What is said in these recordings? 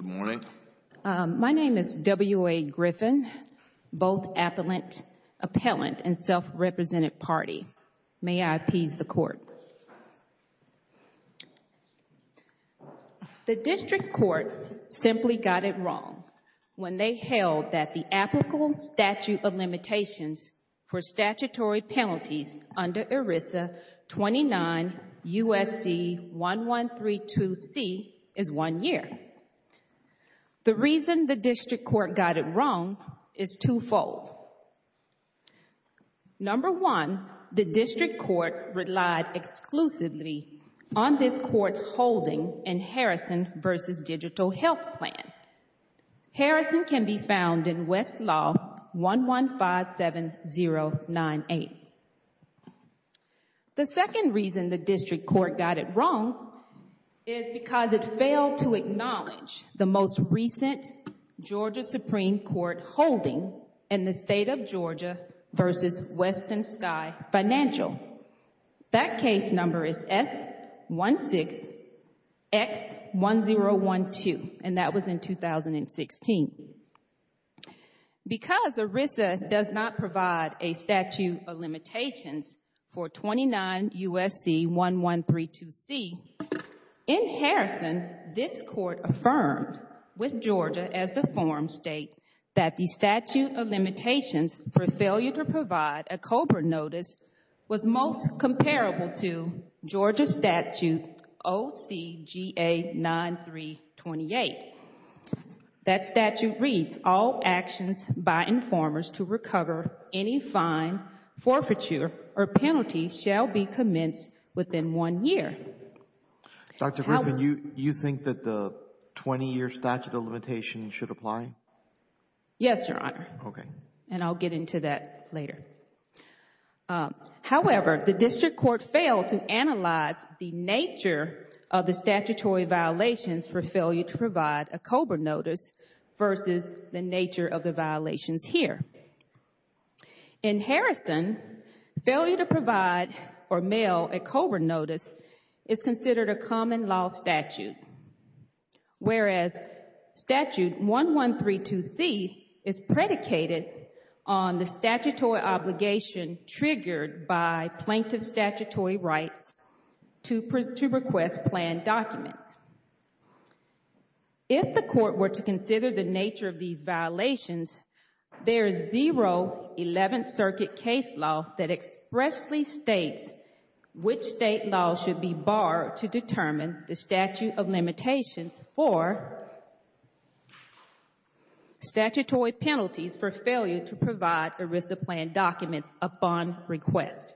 Good morning. My name is W.A. Griffin, both appellant and self-represented party. May I appease the Court? The District Court simply got it wrong when they held that the applicable The reason the District Court got it wrong is twofold. Number one, the District Court relied exclusively on this Court's holding in Harrison v. Digital Health Plan. Harrison can be found in West Law 1157098. The second reason the District Court got it wrong is because it failed to acknowledge the most recent Georgia Supreme Court holding in the State of Georgia v. Western Sky Financial. That case number is S16X1012, and that was in 2016. Because ERISA does not provide a statute of limitations for 29 U.S.C. 1132C, in Harrison, this Court affirmed with Georgia as the forum state that the statute of limitations for failure to provide a COBRA notice was most comparable to Georgia statute OCGA 9328. That statute reads, all actions by informers to recover any fine, forfeiture, or penalty shall be commenced within one year. Dr. Griffin, you think that the 20-year statute of limitations should apply? Yes, Your Honor, and I'll get into that later. However, the District Court failed to analyze the nature of the statutory violations for failure to provide a COBRA notice versus the nature of the violations here. In Harrison, failure to provide or mail a COBRA notice is considered a common law statute, whereas statute 1132C is predicated on the statutory obligation triggered by plaintiff's statutory rights to request planned documents. If the Court were to consider the nature of these violations, there is zero Eleventh Circuit case law that expressly states which state law should be barred to determine the statute of limitations for statutory penalties for failure to provide ERISA planned documents upon request.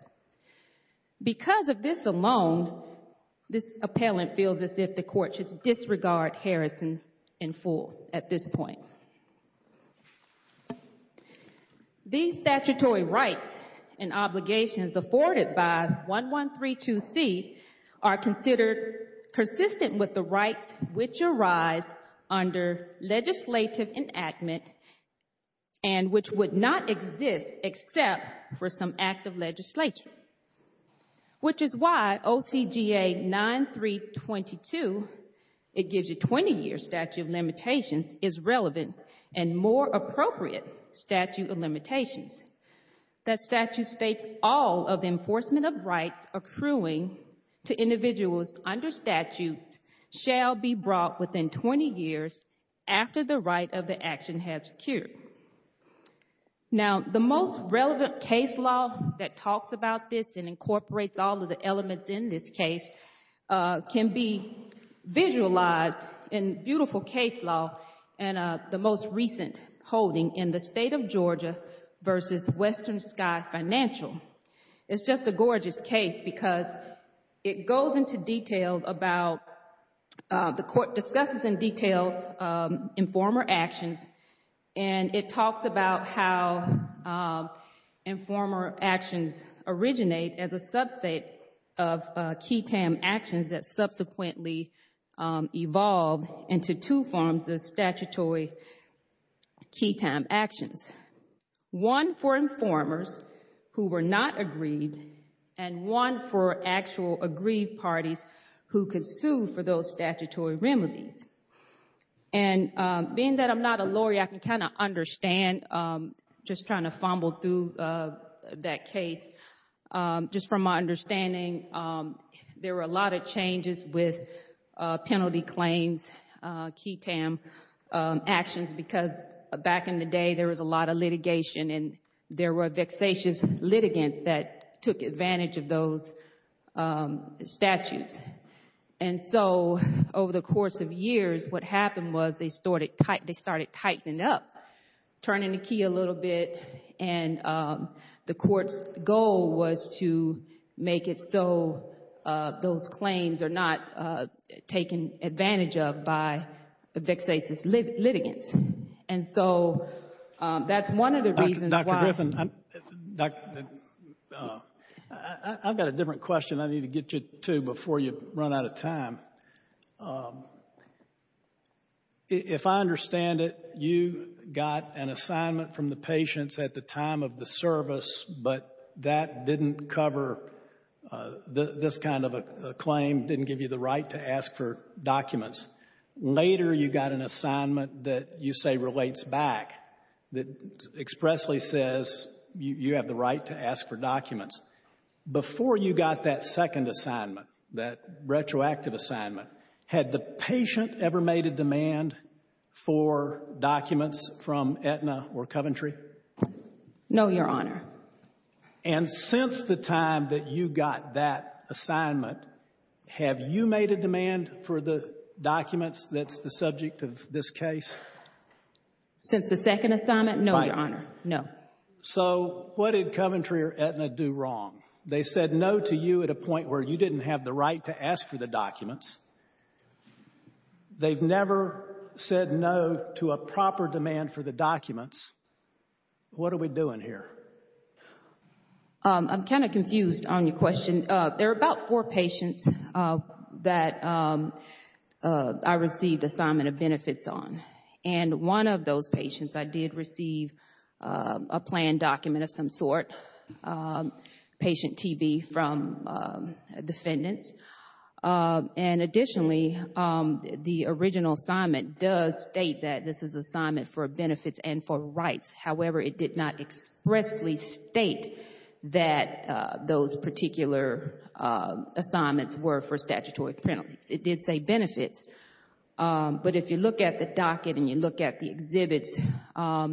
Because of this alone, this appellant feels as if the Court should disregard Harrison in full at this point. These statutory rights and obligations afforded by 1132C are considered consistent with the rights which arise under legislative enactment and which would not exist except for some act of legislature, which is why OCGA 9322, it gives you 20-year statute of limitations, is relevant and more appropriate statute of limitations. That statute states all of enforcement of rights accruing to individuals under statutes shall be brought within 20 years after the date of the action has occurred. Now the most relevant case law that talks about this and incorporates all of the elements in this case can be visualized in beautiful case law and the most recent holding in the State of Georgia v. Western Sky Financial. It's just a gorgeous case because it goes into detail about, the Court discusses in detail, informer actions and it talks about how informer actions originate as a sub-state of key time actions that subsequently evolve into two forms of statutory key time actions. One for informers who were not agreed and one for actual agreed parties who could sue for those statutory remedies. And being that I'm not a lawyer, I can kind of understand, just trying to fumble through that case, just from my understanding, there were a lot of changes with penalty claims, key time actions because back in the day there was a lot of litigation and there were vexatious litigants that took advantage of those statutes. And so over the course of years what happened was they started tightening it up, turning the key a little bit, and the Court's goal was to make it so those claims are not taken advantage of by vexatious litigants. And so that's one of the reasons why... I've got a different question I need to get you to before you run out of time. If I understand it, you got an assignment from the patients at the time of the service, but that didn't cover this kind of a claim, didn't give you the right to ask for documents. Later you got an assignment that you say relates back, that expressly says you have the right to ask for documents. Before you got that second assignment, that retroactive assignment, had the patient ever made a demand for documents from Aetna or Coventry? No, Your Honor. And since the time that you got that assignment, have you made a demand for the documents that's the subject of this case? Since the second assignment, no, Your Honor. No. So what did Coventry or Aetna do wrong? They said no to you at a point where you didn't have the right to ask for the documents. They've never said no to a proper demand for the documents. What are we doing here? I'm kind of confused on your question. There are about four patients that I received assignment of benefits on. And one of those patients, I did receive a planned document of some sort, patient TB from defendants. And additionally, the original assignment does state that this is assignment for benefits and for rights. However, it did not expressly state that those particular assignments were for statutory penalties. It did say benefits. But if you look at the docket and you look at the exhibits,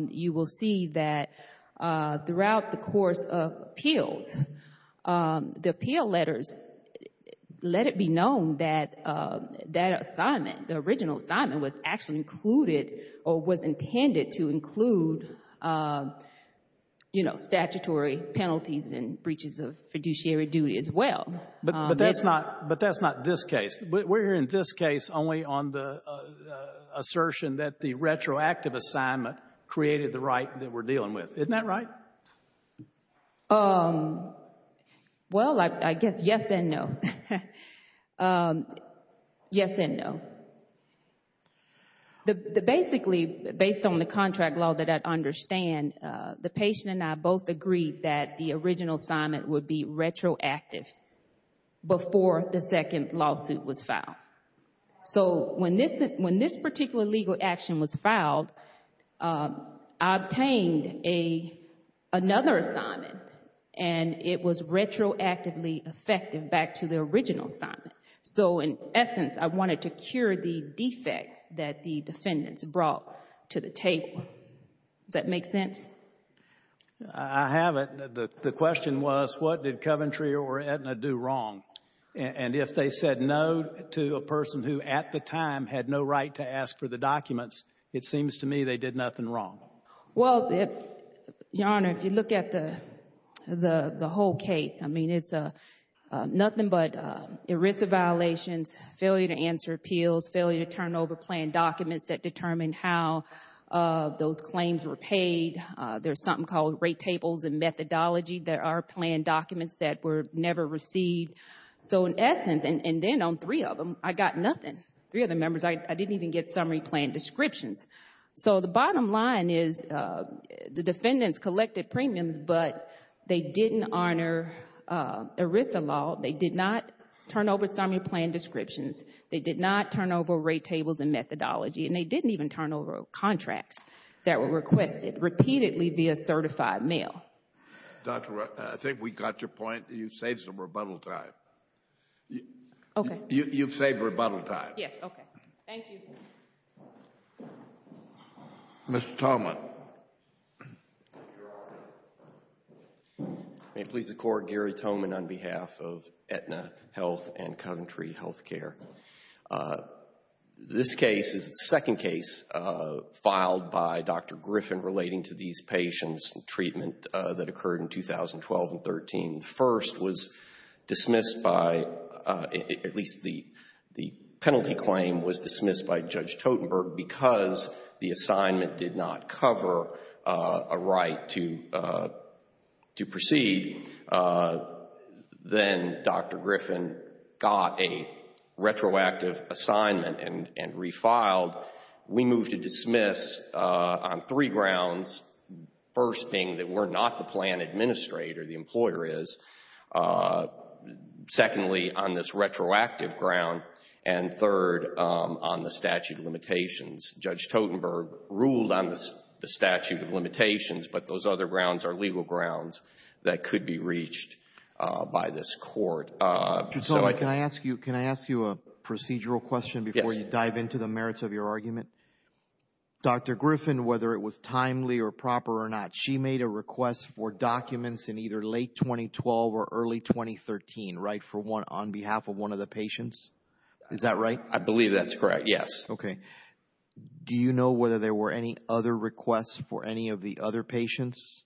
you will see that throughout the course of appeals, the appeal letters, let it be known that that assignment, the original assignment was actually included or was intended to include statutory penalties and breaches of fiduciary duty as well. But that's not this case. We're in this case only on the assertion that the retroactive assignment created the right that we're dealing with. Isn't that right? Well, I guess yes and no. Yes and no. Basically, based on the contract law that I understand, the patient and I both agreed that the original assignment would be retroactive before the another assignment. And it was retroactively effective back to the original assignment. So in essence, I wanted to cure the defect that the defendants brought to the table. Does that make sense? I have it. The question was, what did Coventry or Aetna do wrong? And if they said no to a person who at the time had no right to ask for the documents, it seems to me they did nothing wrong. Well, Your Honor, if you look at the whole case, I mean, it's nothing but ERISA violations, failure to answer appeals, failure to turn over planned documents that determine how those claims were paid. There's something called rate tables and methodology that are planned documents that were never received. So in essence, and then on three of them, I got nothing. Three of the members, I didn't even get summary plan descriptions. So the bottom line is the defendants collected premiums, but they didn't honor ERISA law. They did not turn over summary plan descriptions. They did not turn over rate tables and methodology. And they didn't even turn over contracts that were requested repeatedly via certified mail. Dr. Wright, I think we got your point. You've saved some rebuttal time. Okay. You've saved rebuttal time. Yes, okay. Thank you. Mr. Tomlin. May it please the Court, Gary Tomlin on behalf of Aetna Health and Coventry Healthcare. This case is the second case filed by Dr. Griffin relating to these patients and treatment that occurred in 2012 and 2013. The first was dismissed by, at least the penalty claim was dismissed by Judge Totenberg because the assignment did not cover a right to proceed. Then Dr. Griffin got a retroactive assignment and refiled. We moved to dismiss on three grounds. First being that we're not the plan administrator, the employer is. Secondly, on this retroactive ground. And third, on the statute of limitations. Judge Totenberg ruled on the statute of limitations, but those other grounds are legal grounds that could be reached by this Court. Judge Tomlin, can I ask you a procedural question before you dive into the merits of your argument? Yes. Dr. Griffin, whether it was timely or proper or not, she made a request for documents in either late 2012 or early 2013, right, on behalf of one of the patients? Is that right? I believe that's correct, yes. Okay. Do you know whether there were any other requests for any of the other patients?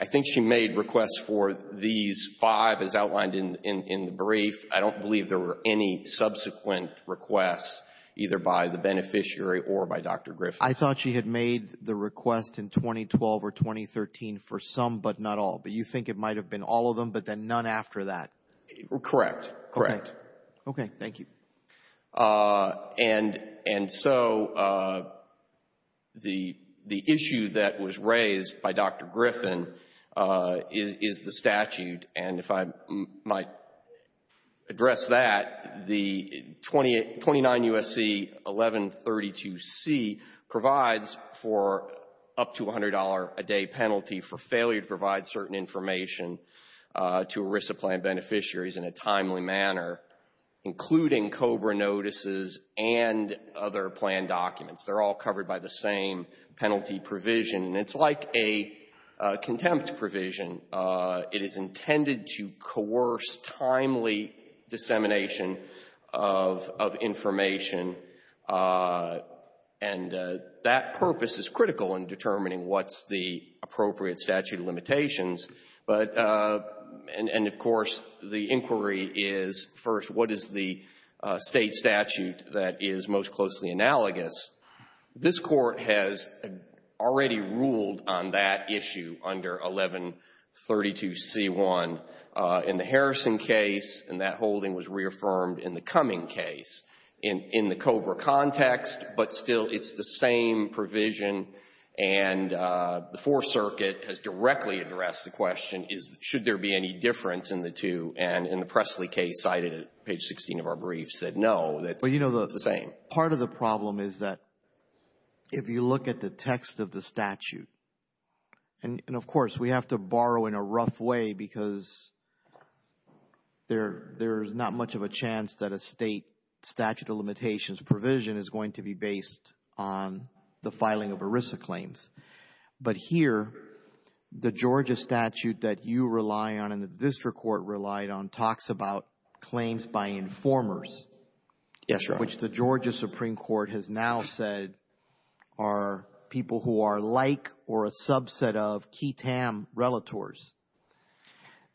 I think she made requests for these five as outlined in the brief. I don't believe there were any subsequent requests either by the beneficiary or by Dr. Griffin. I thought she had made the request in 2012 or 2013 for some but not all, but you think it might have been all of them but then none after that? Correct. Okay. Thank you. And so the issue that was raised by Dr. Griffin is the statute, and if I might address that, the 29 U.S.C. 1132C provides for up to $100 a day penalty for failure to provide certain information to ERISA plan beneficiaries in a timely manner, including COBRA notices and other plan documents. They're all covered by the same penalty provision, and it's like a contempt provision. It is intended to coerce timely dissemination of information, and that purpose is critical in determining what's the appropriate statute of limitations. And, of course, the inquiry is, first, what is the State statute that is most closely analogous? This Court has already ruled on that issue under 1132C1 in the Harrison case, and that holding was reaffirmed in the Cumming case in the COBRA context, but still it's the same provision. And the Fourth Circuit has directly addressed the question, should there be any difference in the two, and in the Presley case cited at page 16 of our brief said no, that's the same. But part of the problem is that if you look at the text of the statute, and, of course, we have to borrow in a rough way because there's not much of a chance that a State statute of limitations provision is going to be based on the filing of ERISA claims. But here, the Georgia statute that you rely on and the district court relied on talks about claims by informers. Yes, Your Honor. Which the Georgia Supreme Court has now said are people who are like or a subset of QI-TAM relators.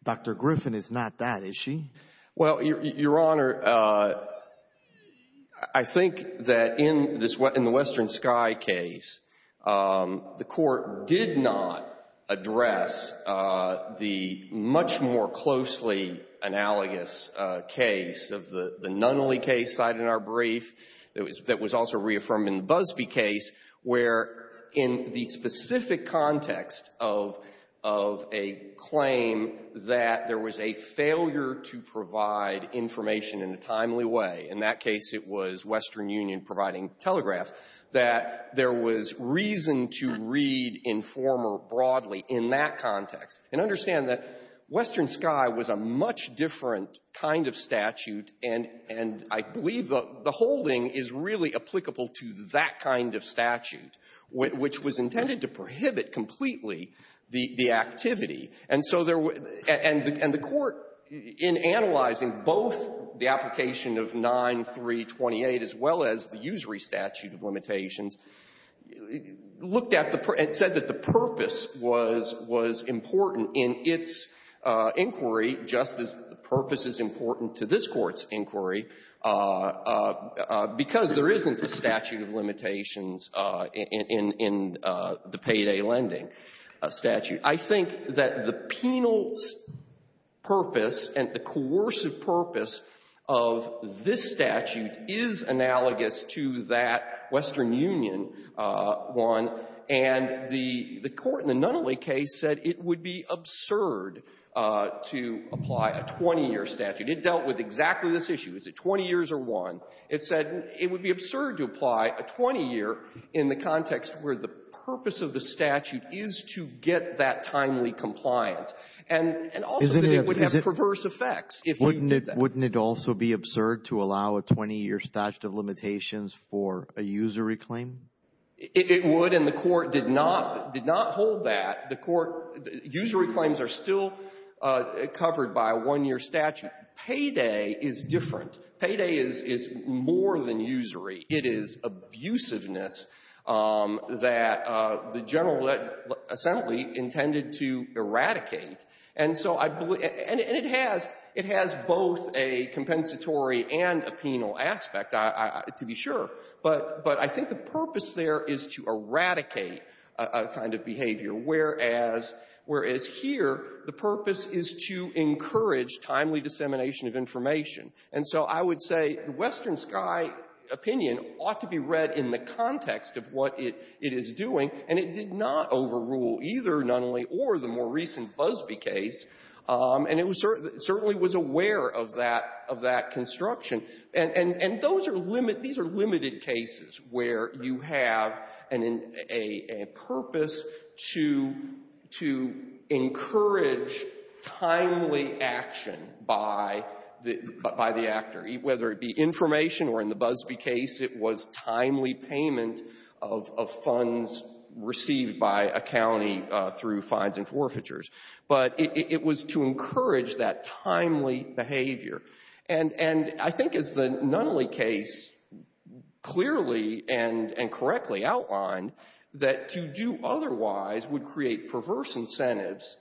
Dr. Griffin is not that, is she? Well, Your Honor, I think that in the Western Sky case, the Court did not address the much more closely analogous case of the Nunley case cited in our brief that was also reaffirmed in the Busbee case, where in the specific context of a claim that there was a failure to provide information in a timely way, in that case it was Western Union providing telegraph, that there was reason to read informer broadly in that context. And understand that Western Sky was a much different kind of statute, and I believe the holding is really applicable to that kind of statute, which was intended to prohibit completely the activity. And so there were — and the Court, in analyzing both the application of 9328 as well as the usury statute of limitations, looked at the — and said that the purpose was — was important in its inquiry just as the purpose is important to this Court's inquiry, because there isn't a statute of limitations in — in the payday lending statute. I think that the penal purpose and the coercive purpose of this statute is analogous to that Western Union one, and the — the court in the Nunley case said it would be absurd to apply a 20-year statute. It dealt with exactly this issue. Is it 20 years or one? It said it would be absurd to apply a 20-year in the context where the purpose of the statute is to get that timely compliance. And — and also that it would have perverse effects if you did that. Wouldn't it also be absurd to allow a 20-year statute of limitations for a usury claim? It would, and the Court did not — did not hold that. The Court — usury claims are still covered by a one-year statute. Payday is different. Payday is — is more than usury. It is abusiveness that the General Assembly intended to eradicate. And so I believe — and it has — it has both a compensatory and a penal aspect, to be sure. But — but I think the purpose there is to eradicate a kind of behavior, whereas — whereas here the purpose is to encourage timely dissemination of information. And so I would say the Western Sky opinion ought to be read in the context of what it — it is doing, and it did not overrule either Nunley or the more recent Busbee case, and it was — certainly was aware of that — of that construction. And — and those are limit — these are limited cases where you have an — a purpose to — to encourage timely action by the — by the actor, whether it be information or, in the Busbee case, it was timely payment of — of funds received by a county through fines and forfeitures. But it — it was to encourage that timely behavior. And — and I think, as the Nunley case clearly and — and correctly outlined, that to do otherwise would create perverse incentives,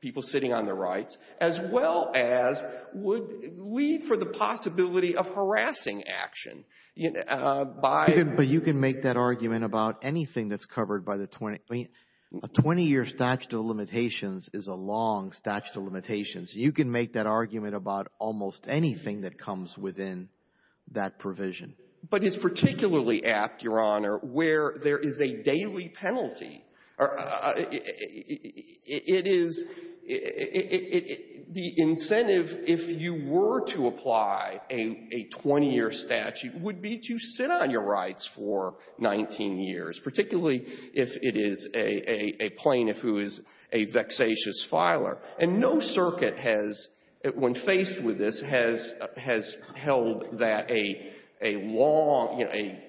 people sitting on their rights, as well as would lead for the possibility of harassing action by — But you can make that argument about anything that's covered by the 20 — I mean, a 20-year statute of limitations is a long statute of limitations. You can make that argument about almost anything that comes within that provision. But it's particularly apt, Your Honor, where there is a daily penalty. It is — the incentive, if you were to apply a — a 20-year statute, would be to sit on your rights for 19 years, particularly if it is a — a plaintiff who is a vexatious filer. And no circuit has, when faced with this, has — has held that a — a long — you know, a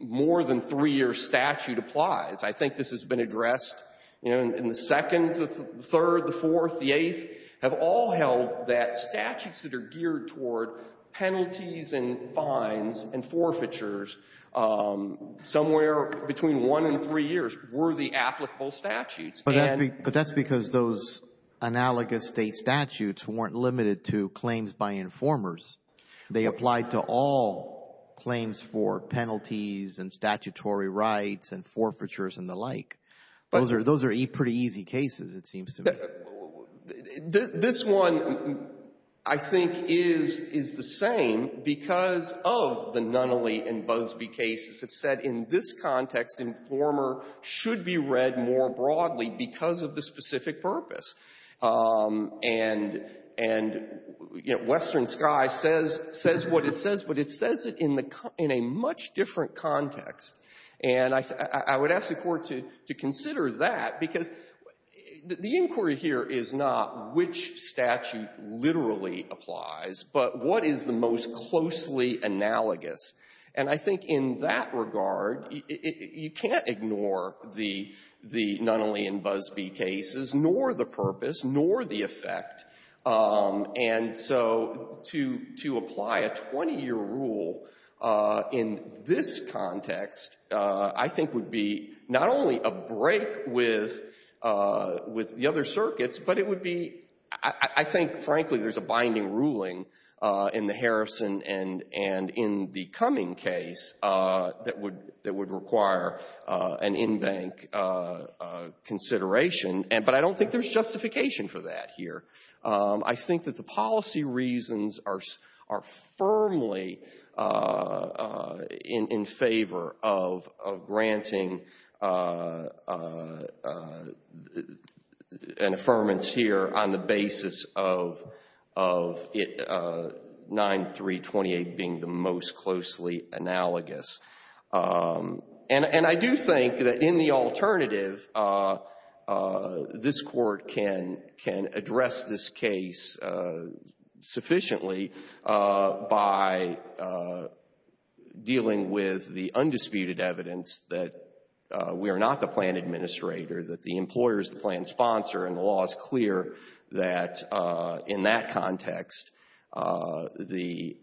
more-than-three-year statute applies. I think this has been addressed, you know, in the second, the third, the fourth, the eighth, have all held that statutes that are geared toward penalties and fines and forfeitures, somewhere between one and three years, were the applicable statutes. And — But that's because those analogous State statutes weren't limited to claims by and statutory rights and forfeitures and the like. Those are — those are pretty easy cases, it seems to me. This one, I think, is — is the same because of the Nunnally and Busbee cases. It said, in this context, Informer should be read more broadly because of the specific purpose. And — and, you know, Western Sky says — says what it says, but it says it in the — in a much different context. And I would ask the Court to consider that because the inquiry here is not which statute literally applies, but what is the most closely analogous. And I think in that regard, you can't ignore the — the Nunnally and Busbee cases, nor the purpose, nor the effect. And so to — to apply a 20-year rule in this context, I think, would be not only a break with — with the other circuits, but it would be — I think, frankly, there's a binding ruling in the Harrison and — and in the Cumming case that would — that would require an in-bank consideration. But I don't think there's justification for that here. I think that the policy reasons are — are firmly in — in favor of — of granting an affirmance here on the basis of it — 9328 being the most closely analogous. And — and I do think that in the alternative, this Court can — can address this case sufficiently by dealing with the undisputed evidence that we are not the plan administrator, that the employer is the plan sponsor, and the law is clear that, in that context, the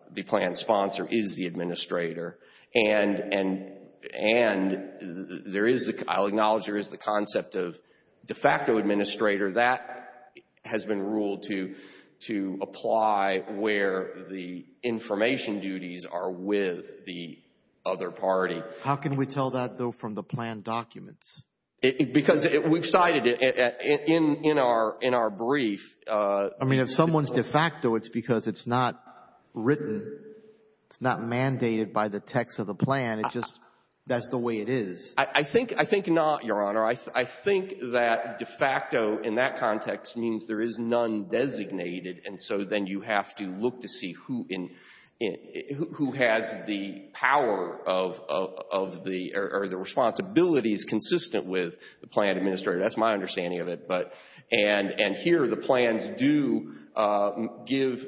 — the plan sponsor is the administrator. And — and — and there is the — I'll acknowledge there is the concept of de facto administrator. That has been ruled to — to apply where the information duties are with the other party. How can we tell that, though, from the plan documents? Because we've cited it in — in our — in our brief. I mean, if someone's de facto, it's because it's not written, it's not mandated by the text of the plan. It just — that's the way it is. I think — I think not, Your Honor. I think that de facto in that context means there is none designated, and so then you have to look to see who in — who has the power of — of the — or the responsibilities consistent with the plan administrator. That's my understanding of it, but — and — and here the plans do give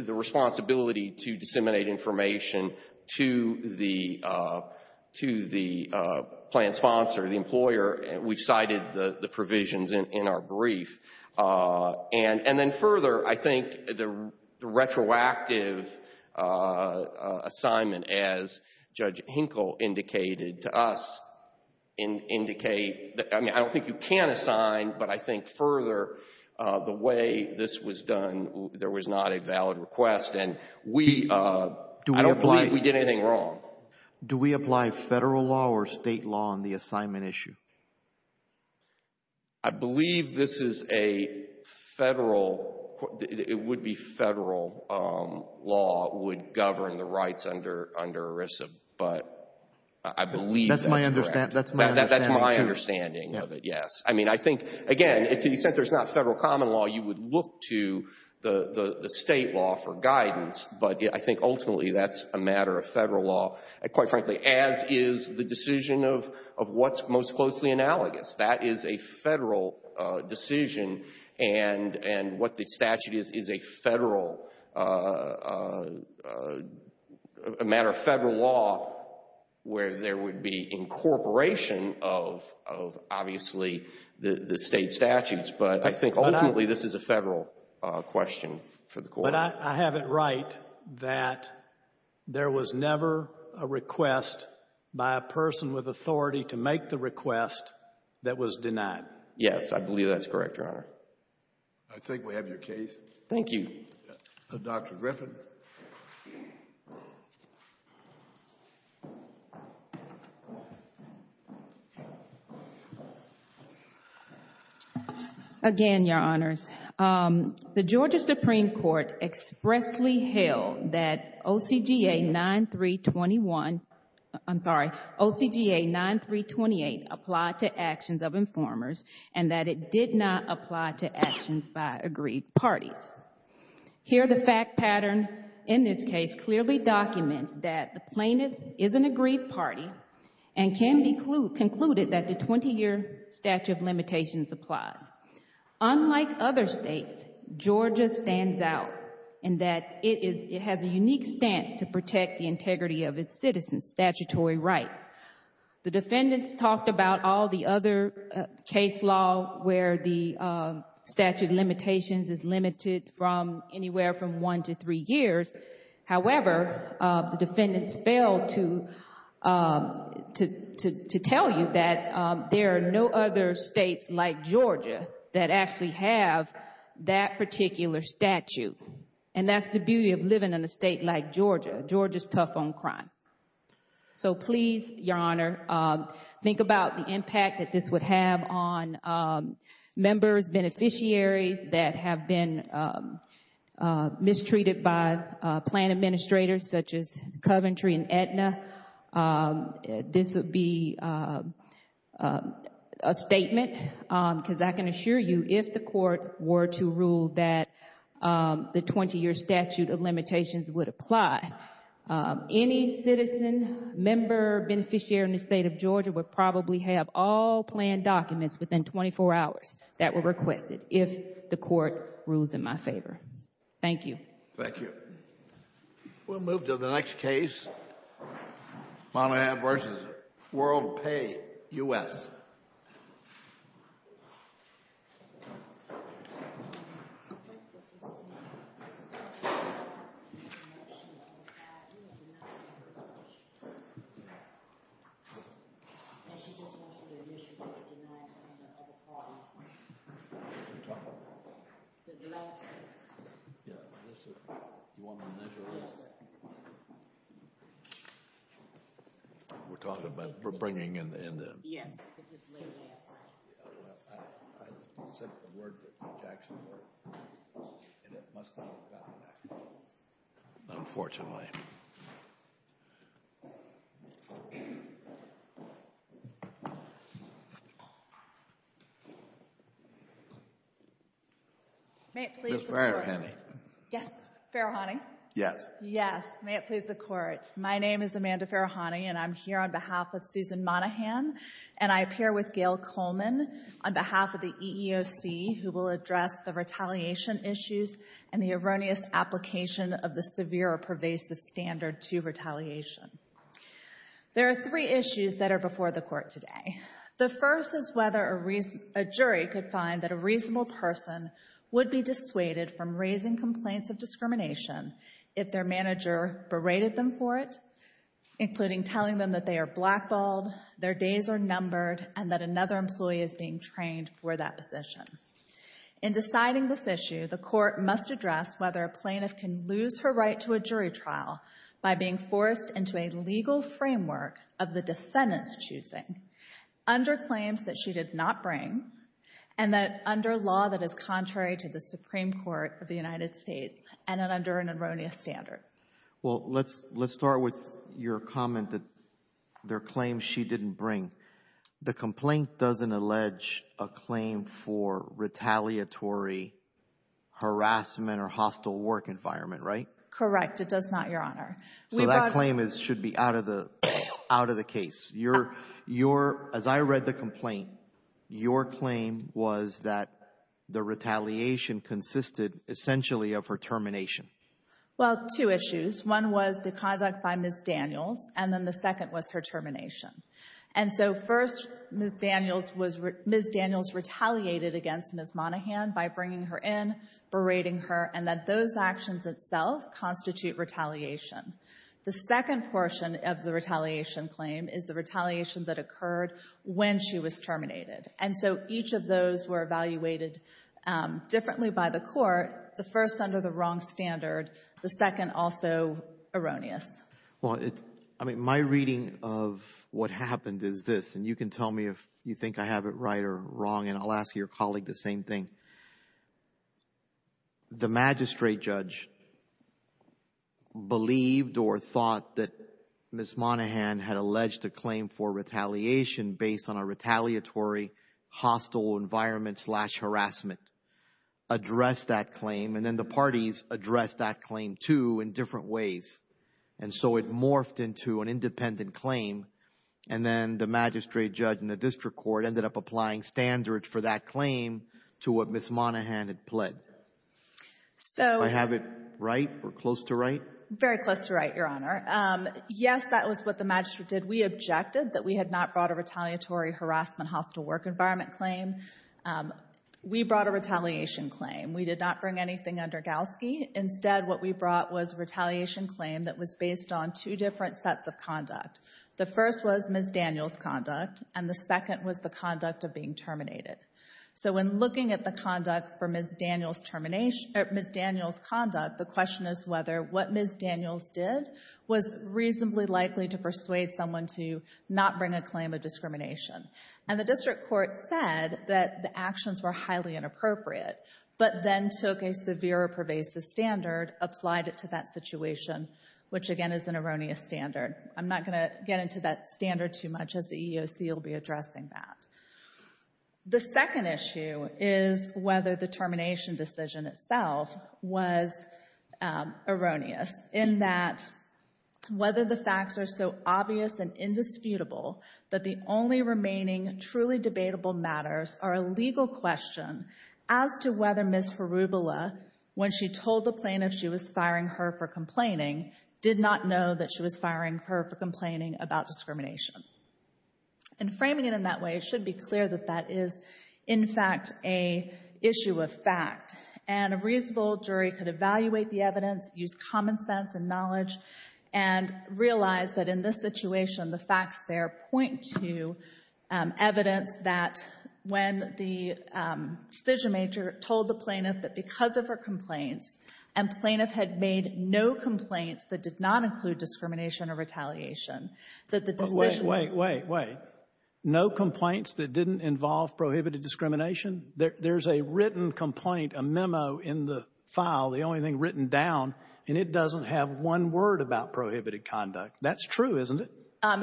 the responsibility to disseminate information to the — to the plan sponsor, the employer. We've cited the provisions in our brief. And then further, I think the retroactive assignment, as Judge Hinkle indicated to us, indicate — I mean, I don't think you can assign, but I think further the way this was done, there was not a valid request, and we — I don't believe we did anything wrong. Do we apply federal law or state law on the assignment issue? I believe this is a federal — it would be federal law would govern the rights under — under ERISA, but I believe that's correct. That's my understanding. That's my understanding of it, yes. I mean, I think, again, to the extent there's not federal common law, you would look to the — the state law for guidance, but I think ultimately that's a matter of federal law, quite frankly, as is the decision of — of what's most closely analogous. That is a federal decision, and — and what the statute is, is a federal — a matter of federal law where there would be incorporation of — of, obviously, the — the state statutes. But I think ultimately this is a federal question for the court. But I — I have it right that there was never a request by a person with authority to make the request that was denied. Yes, I believe that's correct, Your Honor. I think we have your case. Thank you. Dr. Griffin. Again, Your Honors. The Georgia Supreme Court expressly held that OCGA 9321 — I'm sorry, OCGA 9328 applied to actions of informers and that it did not apply to actions by aggrieved parties. Here, the fact pattern in this case clearly documents that the plaintiff is an aggrieved party and can be concluded that the 20-year statute of limitations applies. Unlike other states, Georgia stands out in that it is — it has a unique stance to protect the integrity of its citizens' statutory rights. The defendants talked about all the other case law where the statute of limitations is limited from anywhere from one to three years. However, the defendants failed to tell you that there are no other states like Georgia that actually have that particular statute. And that's the beauty of living in a state like Georgia. Georgia's tough on crime. So please, Your Honor, think about the impact that this would have on members, beneficiaries that have been mistreated by plan administrators such as Coventry and Aetna. This would be a statement because I can assure you if the court were to rule that the 20-year statute of limitations would apply, any citizen, member, beneficiary in the state of Georgia would probably have all planned documents within 24 hours that were requested if the court rules in my favor. Thank you. Thank you. We'll move to the next case, Monahab v. World Pay, U.S. We're talking about bringing in the... Yes. Unfortunately. May it please the Court. Ms. Farahani. Yes. Farahani? Yes. Yes. May it please the Court. My name is Amanda Farahani, and I'm here on behalf of Susan Monahan, and I appear with Gail Coleman on behalf of the EEOC who will address the retaliation issues and the erroneous application of the severe or pervasive standard to retaliation. There are three issues that are before the court today. The first is whether a jury could find that a reasonable person would be dissuaded from raising complaints of discrimination if their manager berated them for it, including telling them that they are blackballed, their days are numbered, and that another employee is being trained for that position. In deciding this issue, the court must address whether a plaintiff can lose her right to a jury trial by being forced into a legal framework of the defendant's choosing under claims that she did not bring and that under law that is contrary to the Supreme Court of the United States and under an erroneous standard. Well, let's start with your comment that there are claims she didn't bring. The complaint doesn't allege a claim for retaliatory harassment or hostile work environment, right? Correct. It does not, Your Honor. So that claim should be out of the case. As I read the complaint, your claim was that the retaliation consisted essentially of her termination. Well, two issues. One was the conduct by Ms. Daniels, and then the second was her termination. And so first, Ms. Daniels was — Ms. Daniels retaliated against Ms. Monaghan by bringing her in, berating her, and that those actions itself constitute retaliation. The second portion of the retaliation claim is the retaliation that occurred when she was terminated. And so each of those were evaluated differently by the court, the first under the wrong standard, the second also erroneous. Well, I mean, my reading of what happened is this, and you can tell me if you think I have it right or wrong, and I'll ask your colleague the same thing. The magistrate judge believed or thought that Ms. Monaghan had alleged a claim for retaliation based on a retaliatory hostile environment-slash-harassment, addressed that claim, and then the parties addressed that claim, too, in different ways. And so it morphed into an independent claim, and then the magistrate judge and the district court ended up applying standards for that claim to what Ms. Monaghan had pled. So — Do I have it right or close to right? Very close to right, Your Honor. Yes, that was what the magistrate did. We objected that we had not brought a retaliatory harassment hostile work environment claim. We brought a retaliation claim. We did not bring anything under Galsky. Instead, what we brought was a retaliation claim that was based on two different sets of conduct. The first was Ms. Daniels' conduct, and the second was the conduct of being terminated. So when looking at the conduct for Ms. Daniels' termination — or Ms. Daniels' conduct, the question is whether what Ms. Daniels did was reasonably likely to persuade someone to not bring a claim of discrimination. And the district court said that the actions were highly inappropriate, but then took a severe or pervasive standard, applied it to that situation, which again is an erroneous standard. I'm not going to get into that standard too much as the EEOC will be addressing that. The second issue is whether the termination decision itself was erroneous in that whether the facts are so obvious and indisputable that the only remaining truly debatable matters are a legal question as to whether Ms. Harubula, when she told the plaintiff she was firing her for complaining, did not know that she was firing her for complaining about discrimination. And framing it in that way, it should be clear that that is, in fact, an issue of fact. And a reasonable jury could evaluate the evidence, use common sense and knowledge, and realize that in this situation, the facts there point to evidence that when the decision-maker told the plaintiff that because of her complaints, and plaintiff had made no complaints that did not include discrimination or retaliation, that the decision- Wait, wait, wait. No complaints that didn't involve prohibited discrimination? There's a written complaint, a memo in the file, the only thing written down, and it is true, isn't it?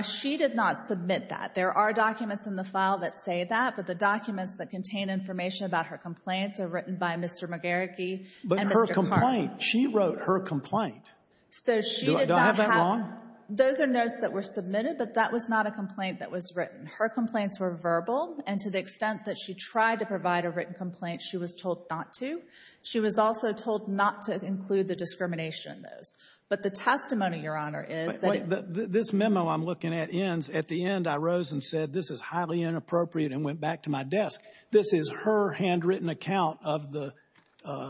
She did not submit that. There are documents in the file that say that, but the documents that contain information about her complaints are written by Mr. McGarricky and Mr. Hart. But her complaint, she wrote her complaint. So she did not have- Do I have that wrong? Those are notes that were submitted, but that was not a complaint that was written. Her complaints were verbal, and to the extent that she tried to provide a written complaint, she was told not to. She was also told not to include the discrimination in those. But the testimony, Your Honor, is- This memo I'm looking at ends, at the end, I rose and said, this is highly inappropriate and went back to my desk. This is her handwritten account of the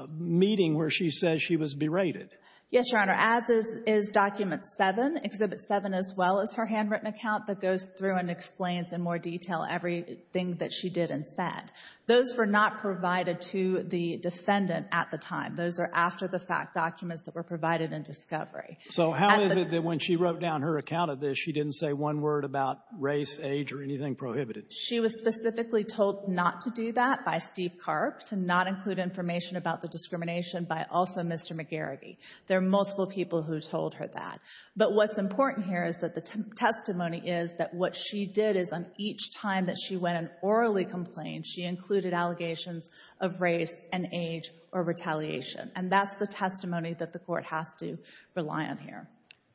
meeting where she says she was berated. Yes, Your Honor. As is Document 7, Exhibit 7, as well as her handwritten account that goes through and explains in more detail everything that she did and said. Those were not provided to the defendant at the time. Those are after-the-fact documents that were provided in discovery. So how is it that when she wrote down her account of this, she didn't say one word about race, age, or anything prohibited? She was specifically told not to do that by Steve Karp, to not include information about the discrimination by also Mr. McGarrity. There are multiple people who told her that. But what's important here is that the testimony is that what she did is on each time that she went and orally complained, she included allegations of race and age or retaliation. And that's the testimony that the Court has to rely on here.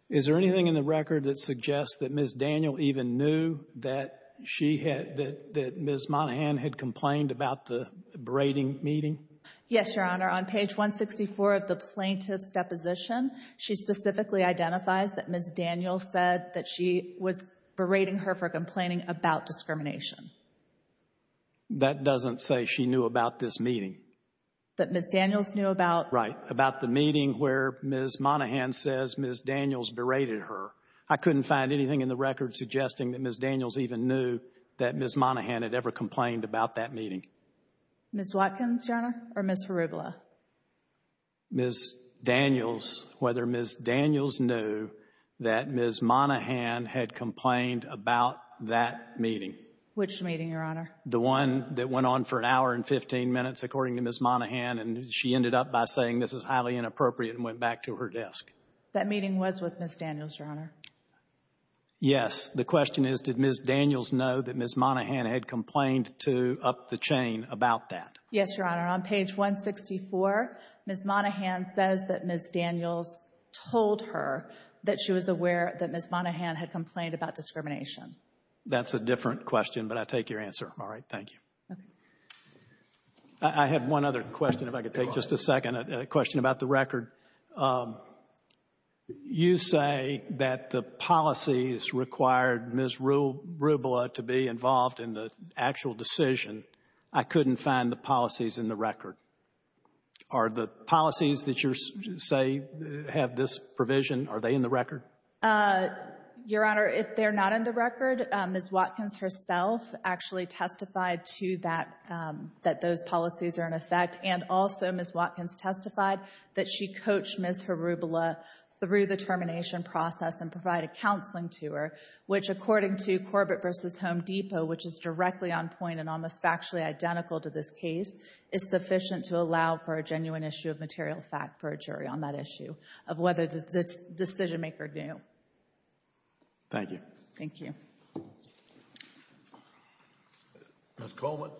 Is there anything in the record that suggests that Ms. Daniel even knew that she had that Ms. Monahan had complained about the berating meeting? Yes, Your Honor. On page 164 of the plaintiff's deposition, she specifically identifies that Ms. Daniel said that she was berating her for complaining about discrimination. That doesn't say she knew about this meeting. That Ms. Daniels knew about? Right, about the meeting where Ms. Monahan says Ms. Daniels berated her. I couldn't find anything in the record suggesting that Ms. Daniels even knew that Ms. Monahan had ever complained about that meeting. Ms. Watkins, Your Honor, or Ms. Harubla? Ms. Daniels, whether Ms. Daniels knew that Ms. Monahan had complained about that meeting. Which meeting, Your Honor? The one that went on for an hour and 15 minutes, according to Ms. Monahan, and she ended up by saying this is highly inappropriate and went back to her desk. That meeting was with Ms. Daniels, Your Honor? Yes. The question is did Ms. Daniels know that Ms. Monahan had complained to up the chain about that? Yes, Your Honor. On page 164, Ms. Monahan says that Ms. Daniels told her that she was aware that Ms. Monahan had complained about discrimination. That's a different question, but I take your answer. All right. Thank you. I have one other question if I could take just a second. A question about the record. You say that the policies required Ms. Harubla to be involved in the actual decision. I couldn't find the policies in the record. Your Honor, if they're not in the record, Ms. Watkins herself actually testified to that, that those policies are in effect, and also Ms. Watkins testified that she coached Ms. Harubla through the termination process and provided counseling to her, which according to Corbett v. Home Depot, which is directly on point and almost factually identical to this case, is sufficient to allow for a genuine issue of material fact for a jury on that issue of whether the decision-maker knew. Thank you. Thank you. Ms. Coleman.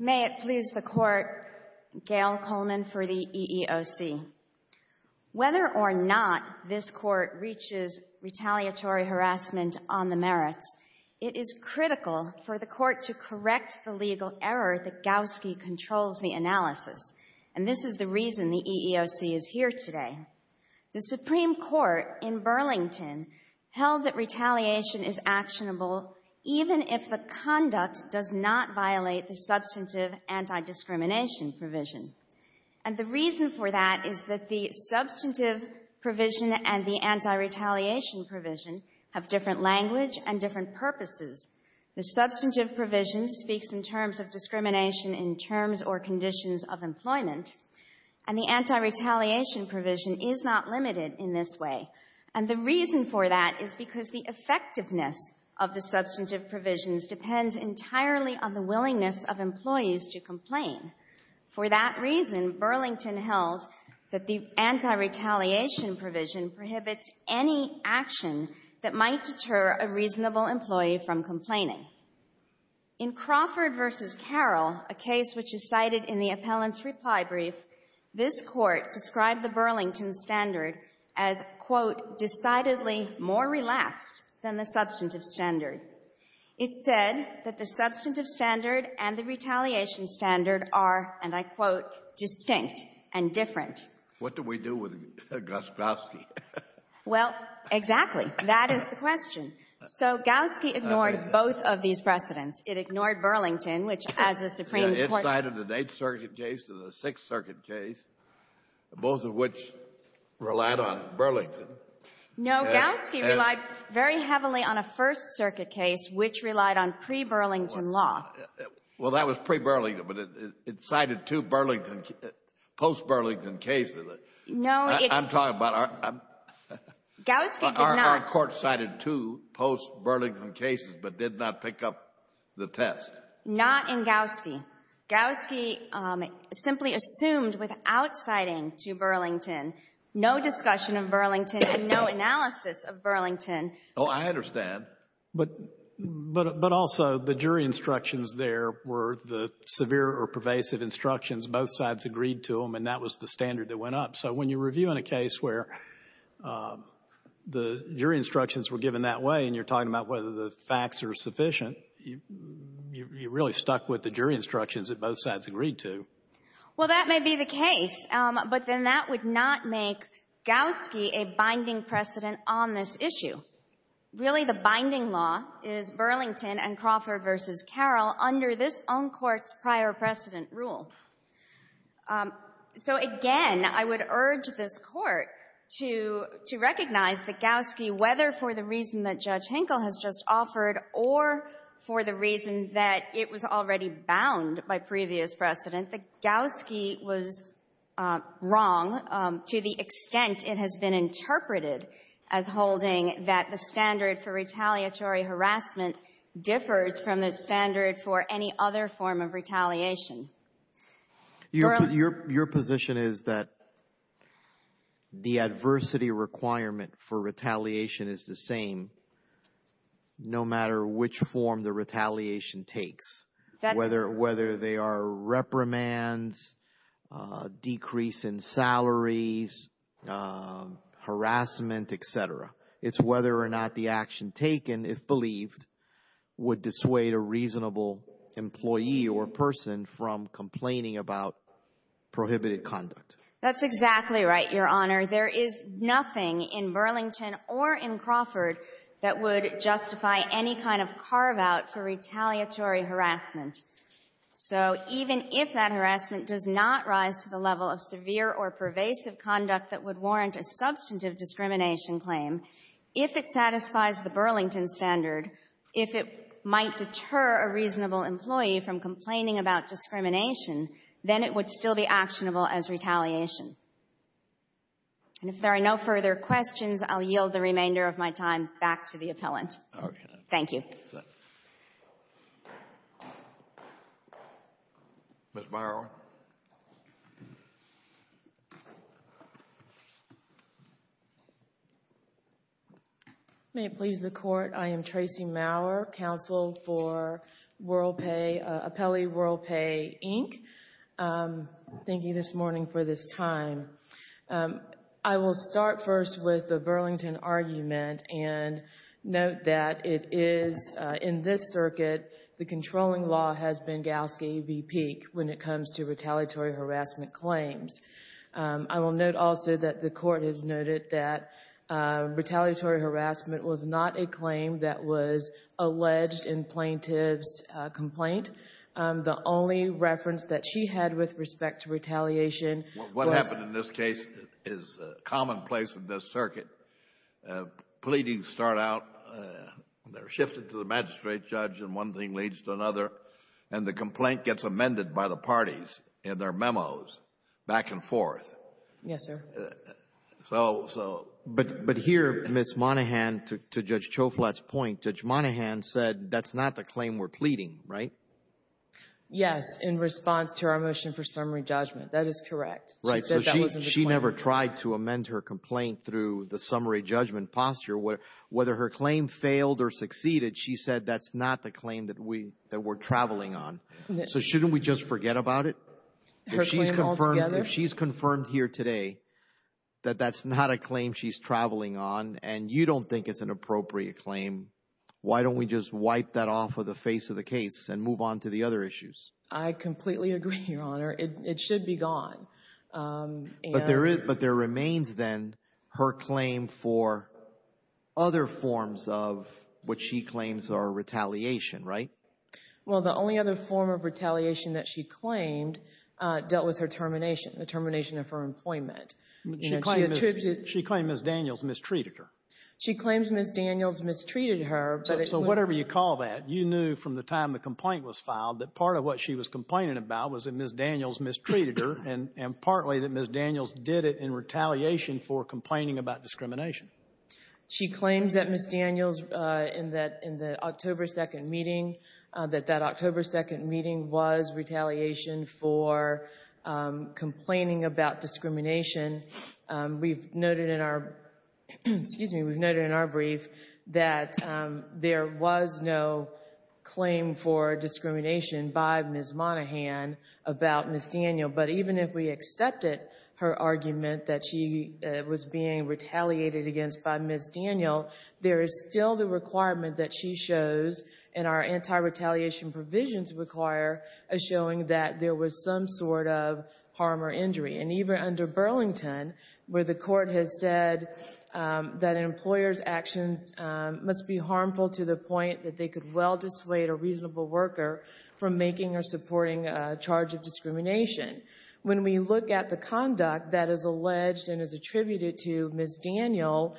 May it please the Court, Gail Coleman for the EEOC. Whether or not this Court reaches retaliatory harassment on the merits, it is critical for the Court to correct the legal error that Gowski controls the analysis. And this is the reason the EEOC is here today. The Supreme Court in Burlington held that retaliation is actionable even if the conduct does not violate the substantive anti-discrimination provision. And the reason for that is that the substantive provision and the anti-retaliation provision have different language and different purposes. The substantive provision speaks in terms of discrimination in terms or conditions of employment, and the anti-retaliation provision is not limited in this way. And the reason for that is because the effectiveness of the substantive provisions depends entirely on the willingness of employees to complain. For that reason, Burlington held that the anti-retaliation provision prohibits any action that might deter a reasonable employee from complaining. In Crawford v. Carroll, a case which is cited in the appellant's reply brief, this Court described the Burlington standard as, quote, decidedly more relaxed than the substantive standard. It said that the substantive standard and the retaliation standard are, and I quote, distinct and different. What do we do with Gus Gowsky? Well, exactly. That is the question. So Gowsky ignored both of these precedents. It ignored Burlington, which as a Supreme Court — It cited an Eighth Circuit case and a Sixth Circuit case, both of which relied on Burlington. No. Gowsky relied very heavily on a First Circuit case, which relied on pre-Burlington law. Well, that was pre-Burlington, but it cited two Burlington — post-Burlington cases. No, it — I'm talking about our — Gowsky did not — Our Court cited two post-Burlington cases, but did not pick up the test. Not in Gowsky. Gowsky simply assumed without citing to Burlington, no discussion of Burlington and no analysis of Burlington. Oh, I understand. But also, the jury instructions there were the severe or pervasive instructions. Both sides agreed to them, and that was the standard that went up. So when you're reviewing a case where the jury instructions were given that way and you're talking about whether the facts are sufficient, you really stuck with the jury instructions that both sides agreed to. Well, that may be the case, but then that would not make Gowsky a binding precedent on this issue. Really, the binding law is Burlington and Crawford v. Carroll under this own court's prior precedent rule. So again, I would urge this Court to — to recognize that Gowsky, whether for the reason that Judge Hinkle has just offered or for the reason that it was already bound by previous precedent, that Gowsky was wrong to the extent it has been interpreted as holding that the standard for retaliatory harassment differs from the standard for any other form of retaliation. Your position is that the adversity requirement for retaliation is the same no matter which form the retaliation takes, whether they are reprimands, decrease in salaries, harassment, et cetera. It's whether or not the action taken, if believed, would dissuade a reasonable employee or person from complaining about prohibited conduct. That's exactly right, Your Honor. There is nothing in Burlington or in Crawford that would justify any kind of carve-out for retaliatory harassment. So even if that harassment does not rise to the level of severe or pervasive conduct that would warrant a substantive discrimination claim, if it satisfies the Burlington standard, if it might deter a reasonable employee from complaining about discrimination, then it would still be actionable as retaliation. And if there Ms. Morrow. May it please the Court, I am Tracy Mower, counsel for WorldPay, Apelli WorldPay, Inc. Thank you this morning for this time. I will start first with the Burlington argument and note that it is in this circuit the controlling law has Benghazi v. Peek when it comes to retaliatory harassment claims. I will note also that the Court has noted that retaliatory harassment was not a claim that was alleged in plaintiff's complaint. The only reference that she had with respect to retaliation was What happened in this case is commonplace in this circuit. Pleadings start out, they're shifted to the magistrate judge, and one thing leads to another, and the complaint gets amended by the parties in their memos back and forth. Yes, sir. So, so. But here, Ms. Monahan, to Judge Choflat's point, Judge Monahan said that's not the claim we're pleading, right? Yes, in response to our motion for summary judgment. That is correct. She never tried to amend her complaint through the summary judgment posture. Whether her claim failed or succeeded, she said that's not the claim that we're traveling on. So shouldn't we just forget about it? If she's confirmed here today that that's not a claim she's traveling on, and you don't think it's an appropriate claim, why don't we just wipe that off of the face of the case and move on to the other issues? I completely agree, Your Honor. It should be gone. But there remains then her claim for other forms of what she claims are retaliation, right? Well, the only other form of retaliation that she claimed dealt with her termination, the termination of her employment. She claimed Ms. Daniels mistreated her. She claims Ms. Daniels mistreated her. So whatever you call that, you knew from the time the complaint was filed that part of what she was complaining about was that Ms. Daniels mistreated her, and partly that Ms. Daniels did it in retaliation for complaining about discrimination. She claims that Ms. Daniels in the October 2nd meeting, that that October 2nd meeting was retaliation for complaining about discrimination. We've noted in our brief that there was no claim for discrimination by Ms. Monaghan about Ms. Daniels. But even if we accepted her argument that she was being retaliated against by Ms. Daniels, there is still the requirement that she shows, and our anti-retaliation provisions require a showing that there was some sort of harm or injury. And even under Burlington, where the court has said that an employer's actions must be harmful to the point that they could well dissuade a reasonable worker from making or supporting a charge of discrimination. When we look at the conduct that is alleged and is attributed to Ms. Daniels,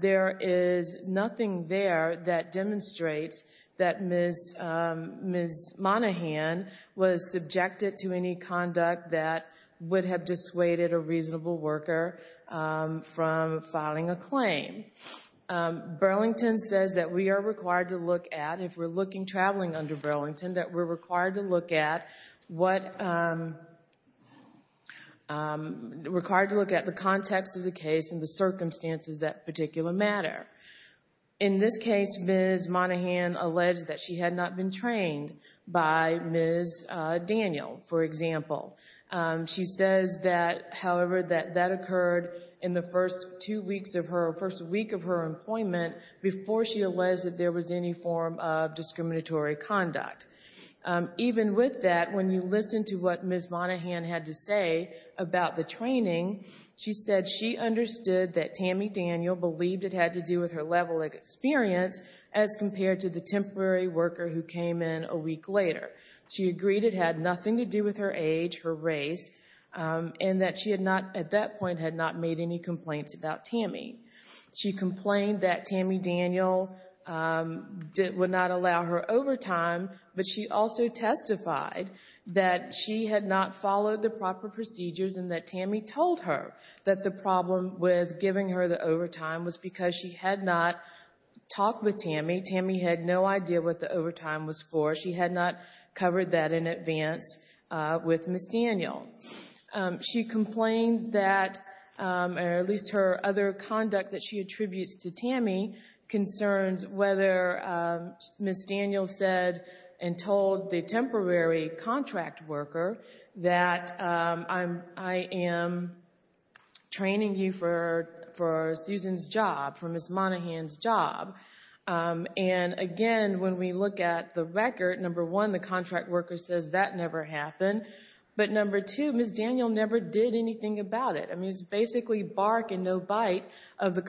there is nothing there that demonstrates that Ms. Monaghan was subjected to any conduct that would have dissuaded a reasonable worker from filing a claim. Burlington says that we are required to look at, if we're looking, traveling under Burlington, that we're required to look at what, required to look at the context of the case and the circumstances that particular matter. In this case, Ms. Monaghan alleged that she had not been trained by Ms. Daniel, for example. She says that, however, that that occurred in the first two weeks of her, first week of her employment before she alleged that there was any form of discriminatory conduct. Even with that, when you listen to what Ms. Monaghan had to say about the experience as compared to the temporary worker who came in a week later. She agreed it had nothing to do with her age, her race, and that she had not, at that point, had not made any complaints about Tammy. She complained that Tammy Daniel would not allow her overtime, but she also testified that she had not followed the proper procedures and that Tammy told her that the problem with giving her the overtime was because she had not talked with Tammy. Tammy had no idea what the overtime was for. She had not covered that in advance with Ms. Daniel. She complained that, or at least her other conduct that she attributes to Tammy, concerns whether Ms. Daniel said and told the temporary contract worker that I am training you for Susan's job, for Ms. Monaghan's job. And, again, when we look at the record, number one, the contract worker says that never happened. But number two, Ms. Daniel never did anything about it. I mean, it's basically bark and no bite of the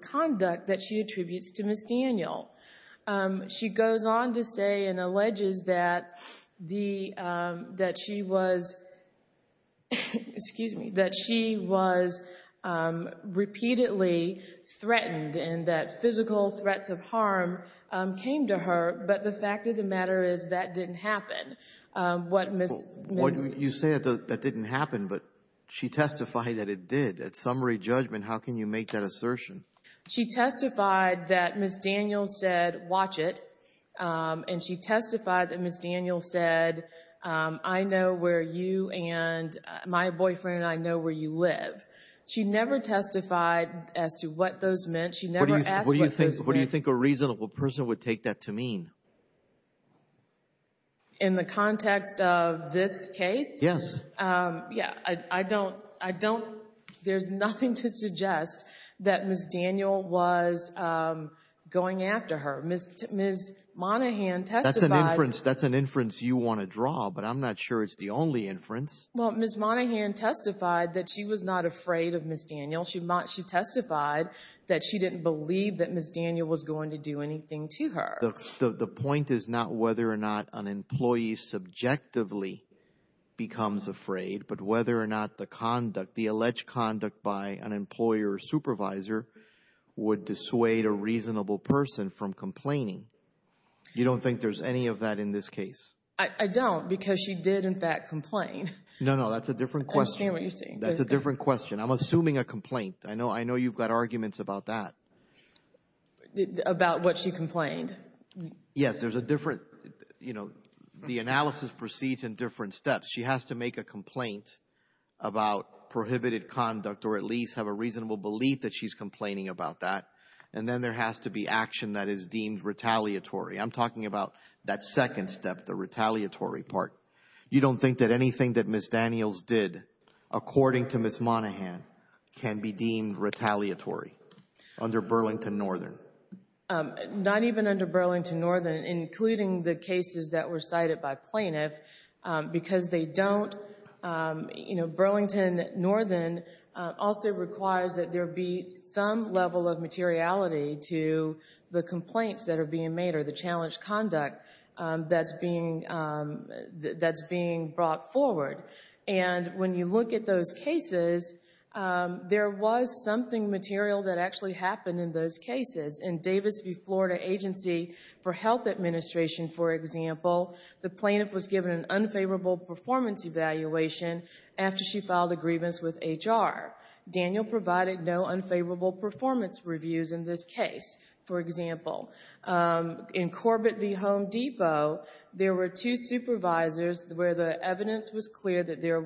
conduct that she attributes to Ms. Daniel. She goes on to say and alleges that she was repeatedly threatened and that physical threats of harm came to her, but the fact of the matter is that didn't happen. You say that didn't happen, but she testified that it did. At summary judgment, how can you make that assertion? She testified that Ms. Daniel said, watch it, and she testified that Ms. Daniel said, I know where you and my boyfriend and I know where you live. She never testified as to what those meant. She never asked what those meant. What do you think a reasonable person would take that to mean? In the context of this case? Yes. Yeah, I don't, I don't, there's nothing to suggest that Ms. Daniel was going after her. Ms. Monaghan testified. That's an inference you want to draw, but I'm not sure it's the only inference. Well, Ms. Monaghan testified that she was not afraid of Ms. Daniel. She testified that she didn't believe that Ms. Daniel was going to do anything to her. The point is not whether or not an employee subjectively becomes afraid, but whether or not the conduct, the alleged conduct by an employer or supervisor would dissuade a reasonable person from complaining. You don't think there's any of that in this case? I don't, because she did, in fact, complain. No, no, that's a different question. I understand what you're saying. That's a different question. I'm assuming a complaint. I know you've got arguments about that. About what she complained. Yes, there's a different, you know, the analysis proceeds in different steps. She has to make a complaint about prohibited conduct, or at least have a reasonable belief that she's complaining about that. And then there has to be action that is deemed retaliatory. I'm talking about that second step, the retaliatory part. You don't think that anything that Ms. Daniels did, according to Ms. Under Burlington Northern. Not even under Burlington Northern, including the cases that were cited by plaintiffs, because they don't, you know, Burlington Northern also requires that there be some level of materiality to the complaints that are being made or the challenged conduct that's being brought forward. And when you look at those cases, there was something material that actually happened in those cases. In Davis v. Florida Agency for Health Administration, for example, the plaintiff was given an unfavorable performance evaluation after she filed a grievance with HR. Daniel provided no unfavorable performance reviews in this case, for example. In Corbett v. Home Depot, there were two supervisors where the evidence was clear that there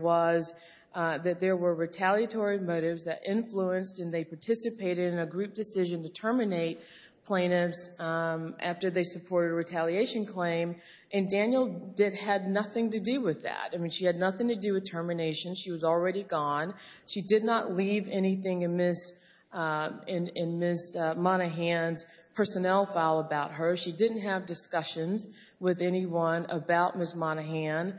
were retaliatory motives that influenced and they participated in a group decision to terminate plaintiffs after they supported a retaliation claim. And Daniel had nothing to do with that. I mean, she had nothing to do with termination. She was already gone. She did not leave anything in Ms. Monaghan's personnel file about her. She didn't have discussions with anyone about Ms. Monaghan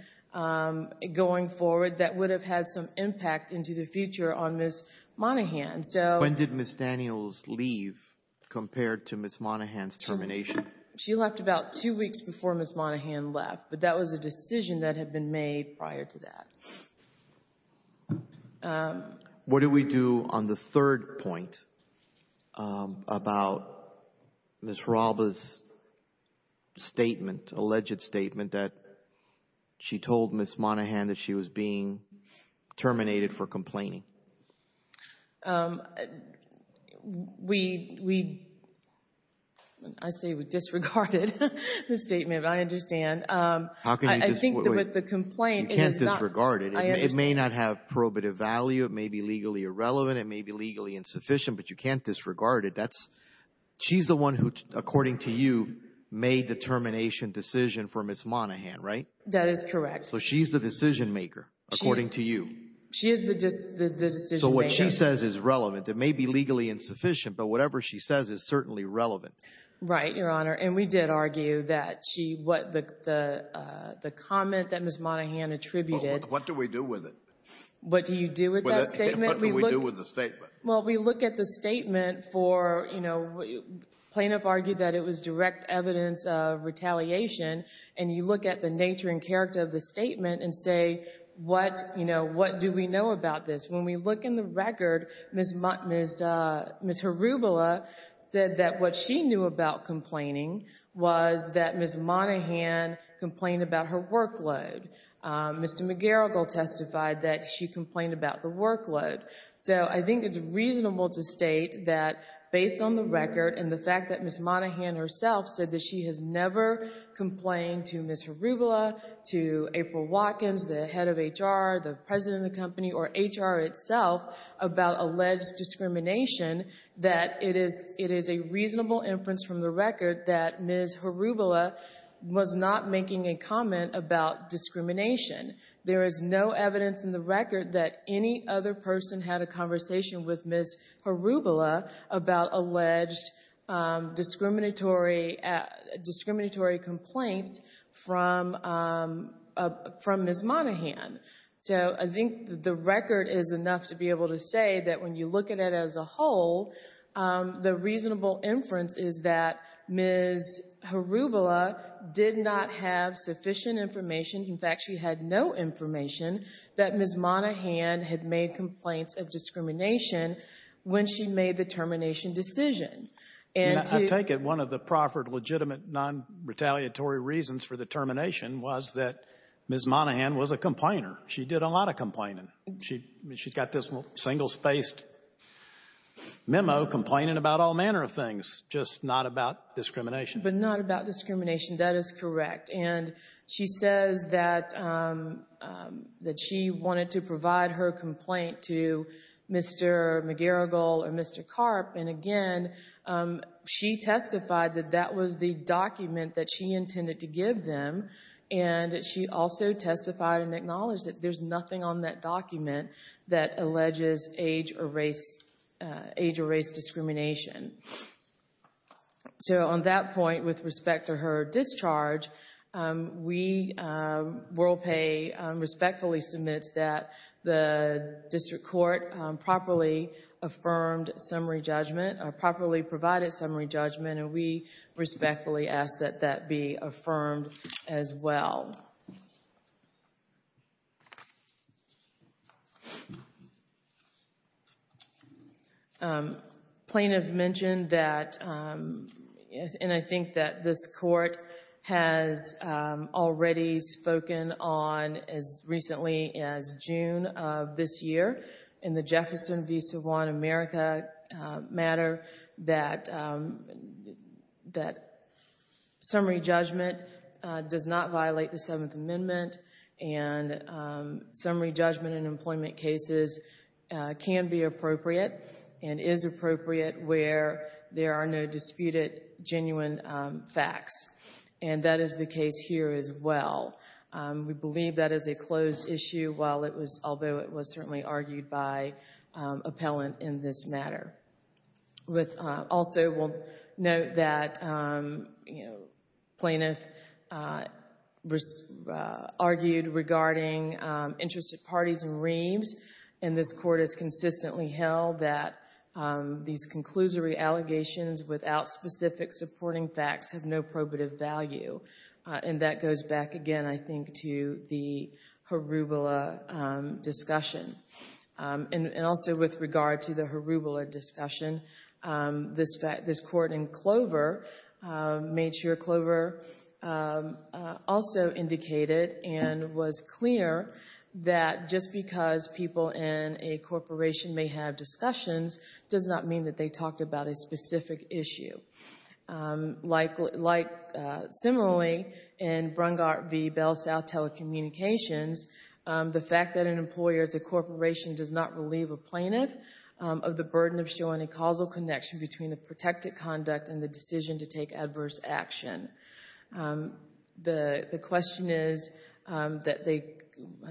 going forward that would have had some impact into the future on Ms. Monaghan. When did Ms. Daniels leave compared to Ms. Monaghan's termination? She left about two weeks before Ms. Monaghan left, but that was a decision that had been made prior to that. What do we do on the third point about Ms. Hralba's statement, alleged statement that she told Ms. Monaghan that she was being terminated for complaining? We, I say we disregarded the statement, but I understand. How can you disregard it? You can't disregard it. It may not have probative value. It may be legally irrelevant. It may be legally insufficient, but you can't disregard it. She's the one who, according to you, made the termination decision for Ms. Monaghan, right? That is correct. So she's the decision maker, according to you. She is the decision maker. So what she says is relevant. It may be legally insufficient, but whatever she says is certainly relevant. Right, Your Honor. And we did argue that she, what the comment that Ms. Monaghan attributed. What do we do with it? What do you do with that statement? What do we do with the statement? Well, we look at the statement for, you know, plaintiff argued that it was direct evidence of retaliation, and you look at the nature and character of the statement and say, what do we know about this? When we look in the record, Ms. Harubula said that what she knew about complaining was that Ms. Monaghan complained about her workload. Mr. McGarrigle testified that she complained about the workload. So I think it's reasonable to state that, based on the record and the fact that Ms. Monaghan herself said that she has never complained to Ms. Harubula, to April Watkins, the head of HR, the president of the company or HR itself about alleged discrimination, that it is a reasonable inference from the record that Ms. Harubula was not making a comment about discrimination. There is no evidence in the record that any other person had a conversation with Ms. Harubula about alleged discriminatory complaints from Ms. Monaghan. So I think the record is enough to be able to say that when you look at it as a whole, the reasonable inference is that Ms. Harubula did not have sufficient information. In fact, she had no information that Ms. Monaghan had made complaints of discrimination when she made the termination decision. I take it one of the proper legitimate non-retaliatory reasons for the complainer. She did a lot of complaining. She's got this single-spaced memo complaining about all manner of things, just not about discrimination. But not about discrimination. That is correct. And she says that she wanted to provide her complaint to Mr. McGarrigle or Mr. Karp. And, again, she testified that that was the document that she intended to give them. And she also testified and acknowledged that there's nothing on that document that alleges age or race discrimination. So on that point, with respect to her discharge, WorldPay respectfully submits that the district court properly affirmed summary judgment or properly provided summary judgment. And we respectfully ask that that be affirmed as well. Plaintiff mentioned that, and I think that this court has already spoken on as recently as June of this year in the Jefferson v. that summary judgment does not violate the Seventh Amendment. And summary judgment in employment cases can be appropriate and is appropriate where there are no disputed genuine facts. And that is the case here as well. We believe that is a closed issue, although it was certainly argued by appellant in this matter. Also, we'll note that plaintiff argued regarding interested parties and reams, and this court has consistently held that these conclusory allegations without specific supporting facts have no probative value. And that goes back, again, I think, to the Harubula discussion. And also with regard to the Harubula discussion, this court in Clover made sure Clover also indicated and was clear that just because people in a corporation may have discussions does not mean that they talk about a specific issue. Similarly, in Brungard v. Bell South Telecommunications, the fact that an employer is a corporation does not relieve a plaintiff of the burden of showing a causal connection between the protected conduct and the decision to take adverse action. The question is that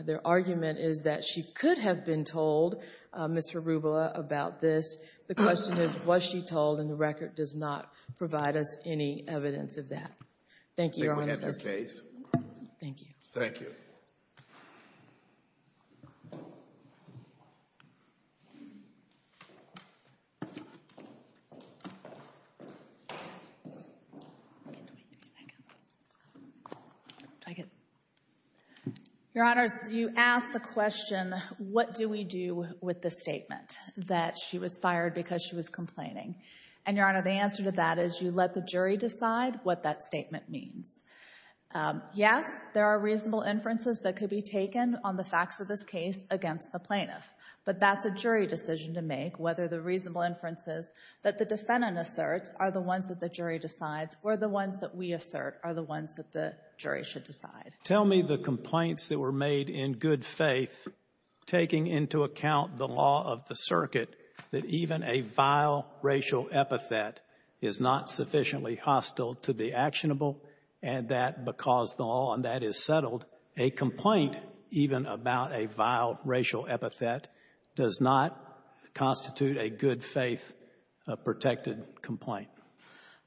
their argument is that she could have been told, Ms. Harubula, about this. The question is, was she told, and the record does not provide us any evidence of that. Thank you, Your Honor. Thank you. Thank you. Your Honor, you asked the question, what do we do with the statement that she was fired because she was complaining? And, Your Honor, the answer to that is you let the jury decide what that statement means. Yes, there are reasonable inferences that could be taken on the facts of this case against the plaintiff, but that's a jury decision to make, whether the reasonable inferences that the defendant asserts are the ones that the jury decides or the ones that we assert are the ones that the jury should decide. Tell me the complaints that were made in good faith taking into account the law of the circuit that even a vile racial epithet is not sufficiently hostile to be actionable and that because the law on that is settled, a complaint, even about a vile racial epithet, does not constitute a good faith protected complaint.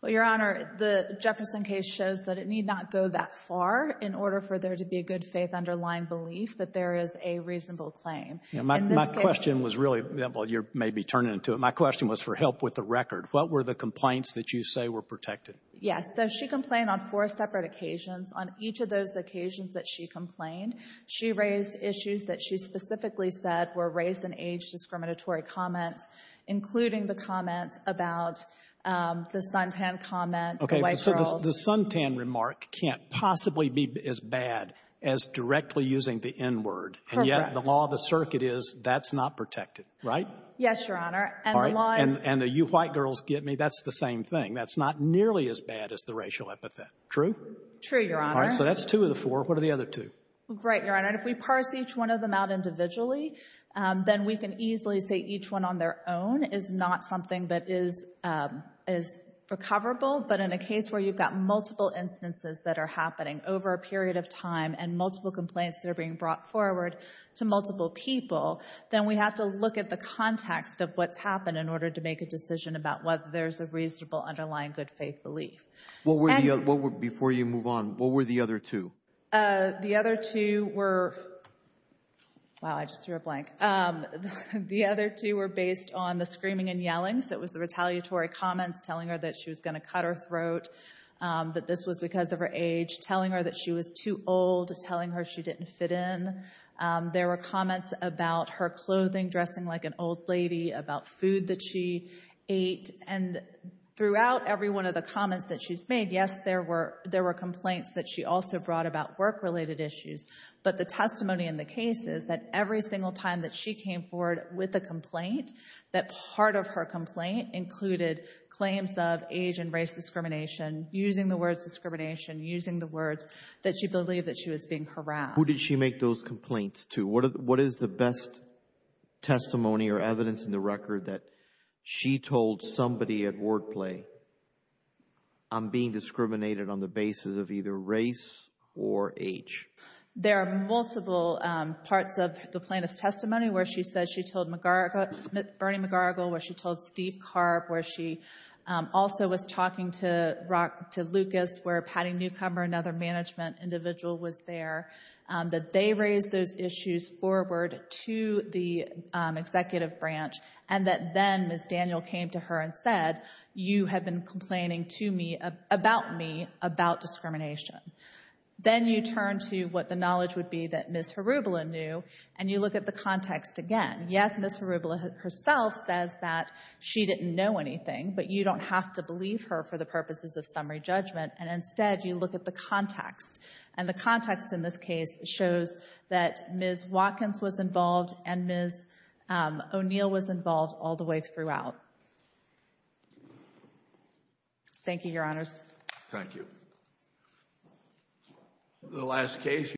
Well, Your Honor, the Jefferson case shows that it need not go that far in order for there to be a good faith underlying belief that there is a reasonable claim. My question was really, well, you may be turning to it, my question was for help with the record. What were the complaints that you say were protected? Yes. So she complained on four separate occasions. On each of those occasions that she complained, she raised issues that she specifically said were race and age discriminatory comments, including the comments about the Suntan comment, the white girls. Okay. So the Suntan remark can't possibly be as bad as directly using the N-word. Correct. And yet the law of the circuit is that's not protected, right? Yes, Your Honor. All right. And the you white girls get me, that's the same thing. That's not nearly as bad as the racial epithet. True? True, Your Honor. All right. So that's two of the four. What are the other two? Right, Your Honor. If we parse each one of them out individually, then we can easily say each one on their own is not something that is recoverable. But in a case where you've got multiple instances that are happening over a period of time and multiple complaints that are being brought forward to multiple people, then we have to look at the context of what's happened in order to make a decision about whether there's a reasonable underlying good faith belief. Before you move on, what were the other two? The other two were – wow, I just threw a blank. The other two were based on the screaming and yelling. So it was the retaliatory comments telling her that she was going to cut her throat, that this was because of her age, telling her that she was too old, telling her she didn't fit in. There were comments about her clothing, dressing like an old lady, about food that she ate. And throughout every one of the comments that she's made, yes, there were complaints that she also brought about work-related issues. But the testimony in the case is that every single time that she came forward with a complaint, that part of her complaint included claims of age and race discrimination, using the words discrimination, using the words that she believed that she was being harassed. Who did she make those complaints to? What is the best testimony or evidence in the record that she told somebody at word play, I'm being discriminated on the basis of either race or age? There are multiple parts of the plaintiff's testimony where she said she told Bernie McGargle, where she told Steve Carp, where she also was talking to Lucas, where Patty Newcomer, another management individual, was there, that they raised those issues forward to the executive branch, and that then Ms. Daniel came to her and said, you have been complaining to me about me about discrimination. Then you turn to what the knowledge would be that Ms. Harubla knew, and you look at the context again. Yes, Ms. Harubla herself says that she didn't know anything, but you don't have to believe her for the purposes of summary judgment, and instead you look at the context. And the context in this case shows that Ms. Watkins was involved and Ms. O'Neill was involved all the way throughout. Thank you, Your Honors. Thank you.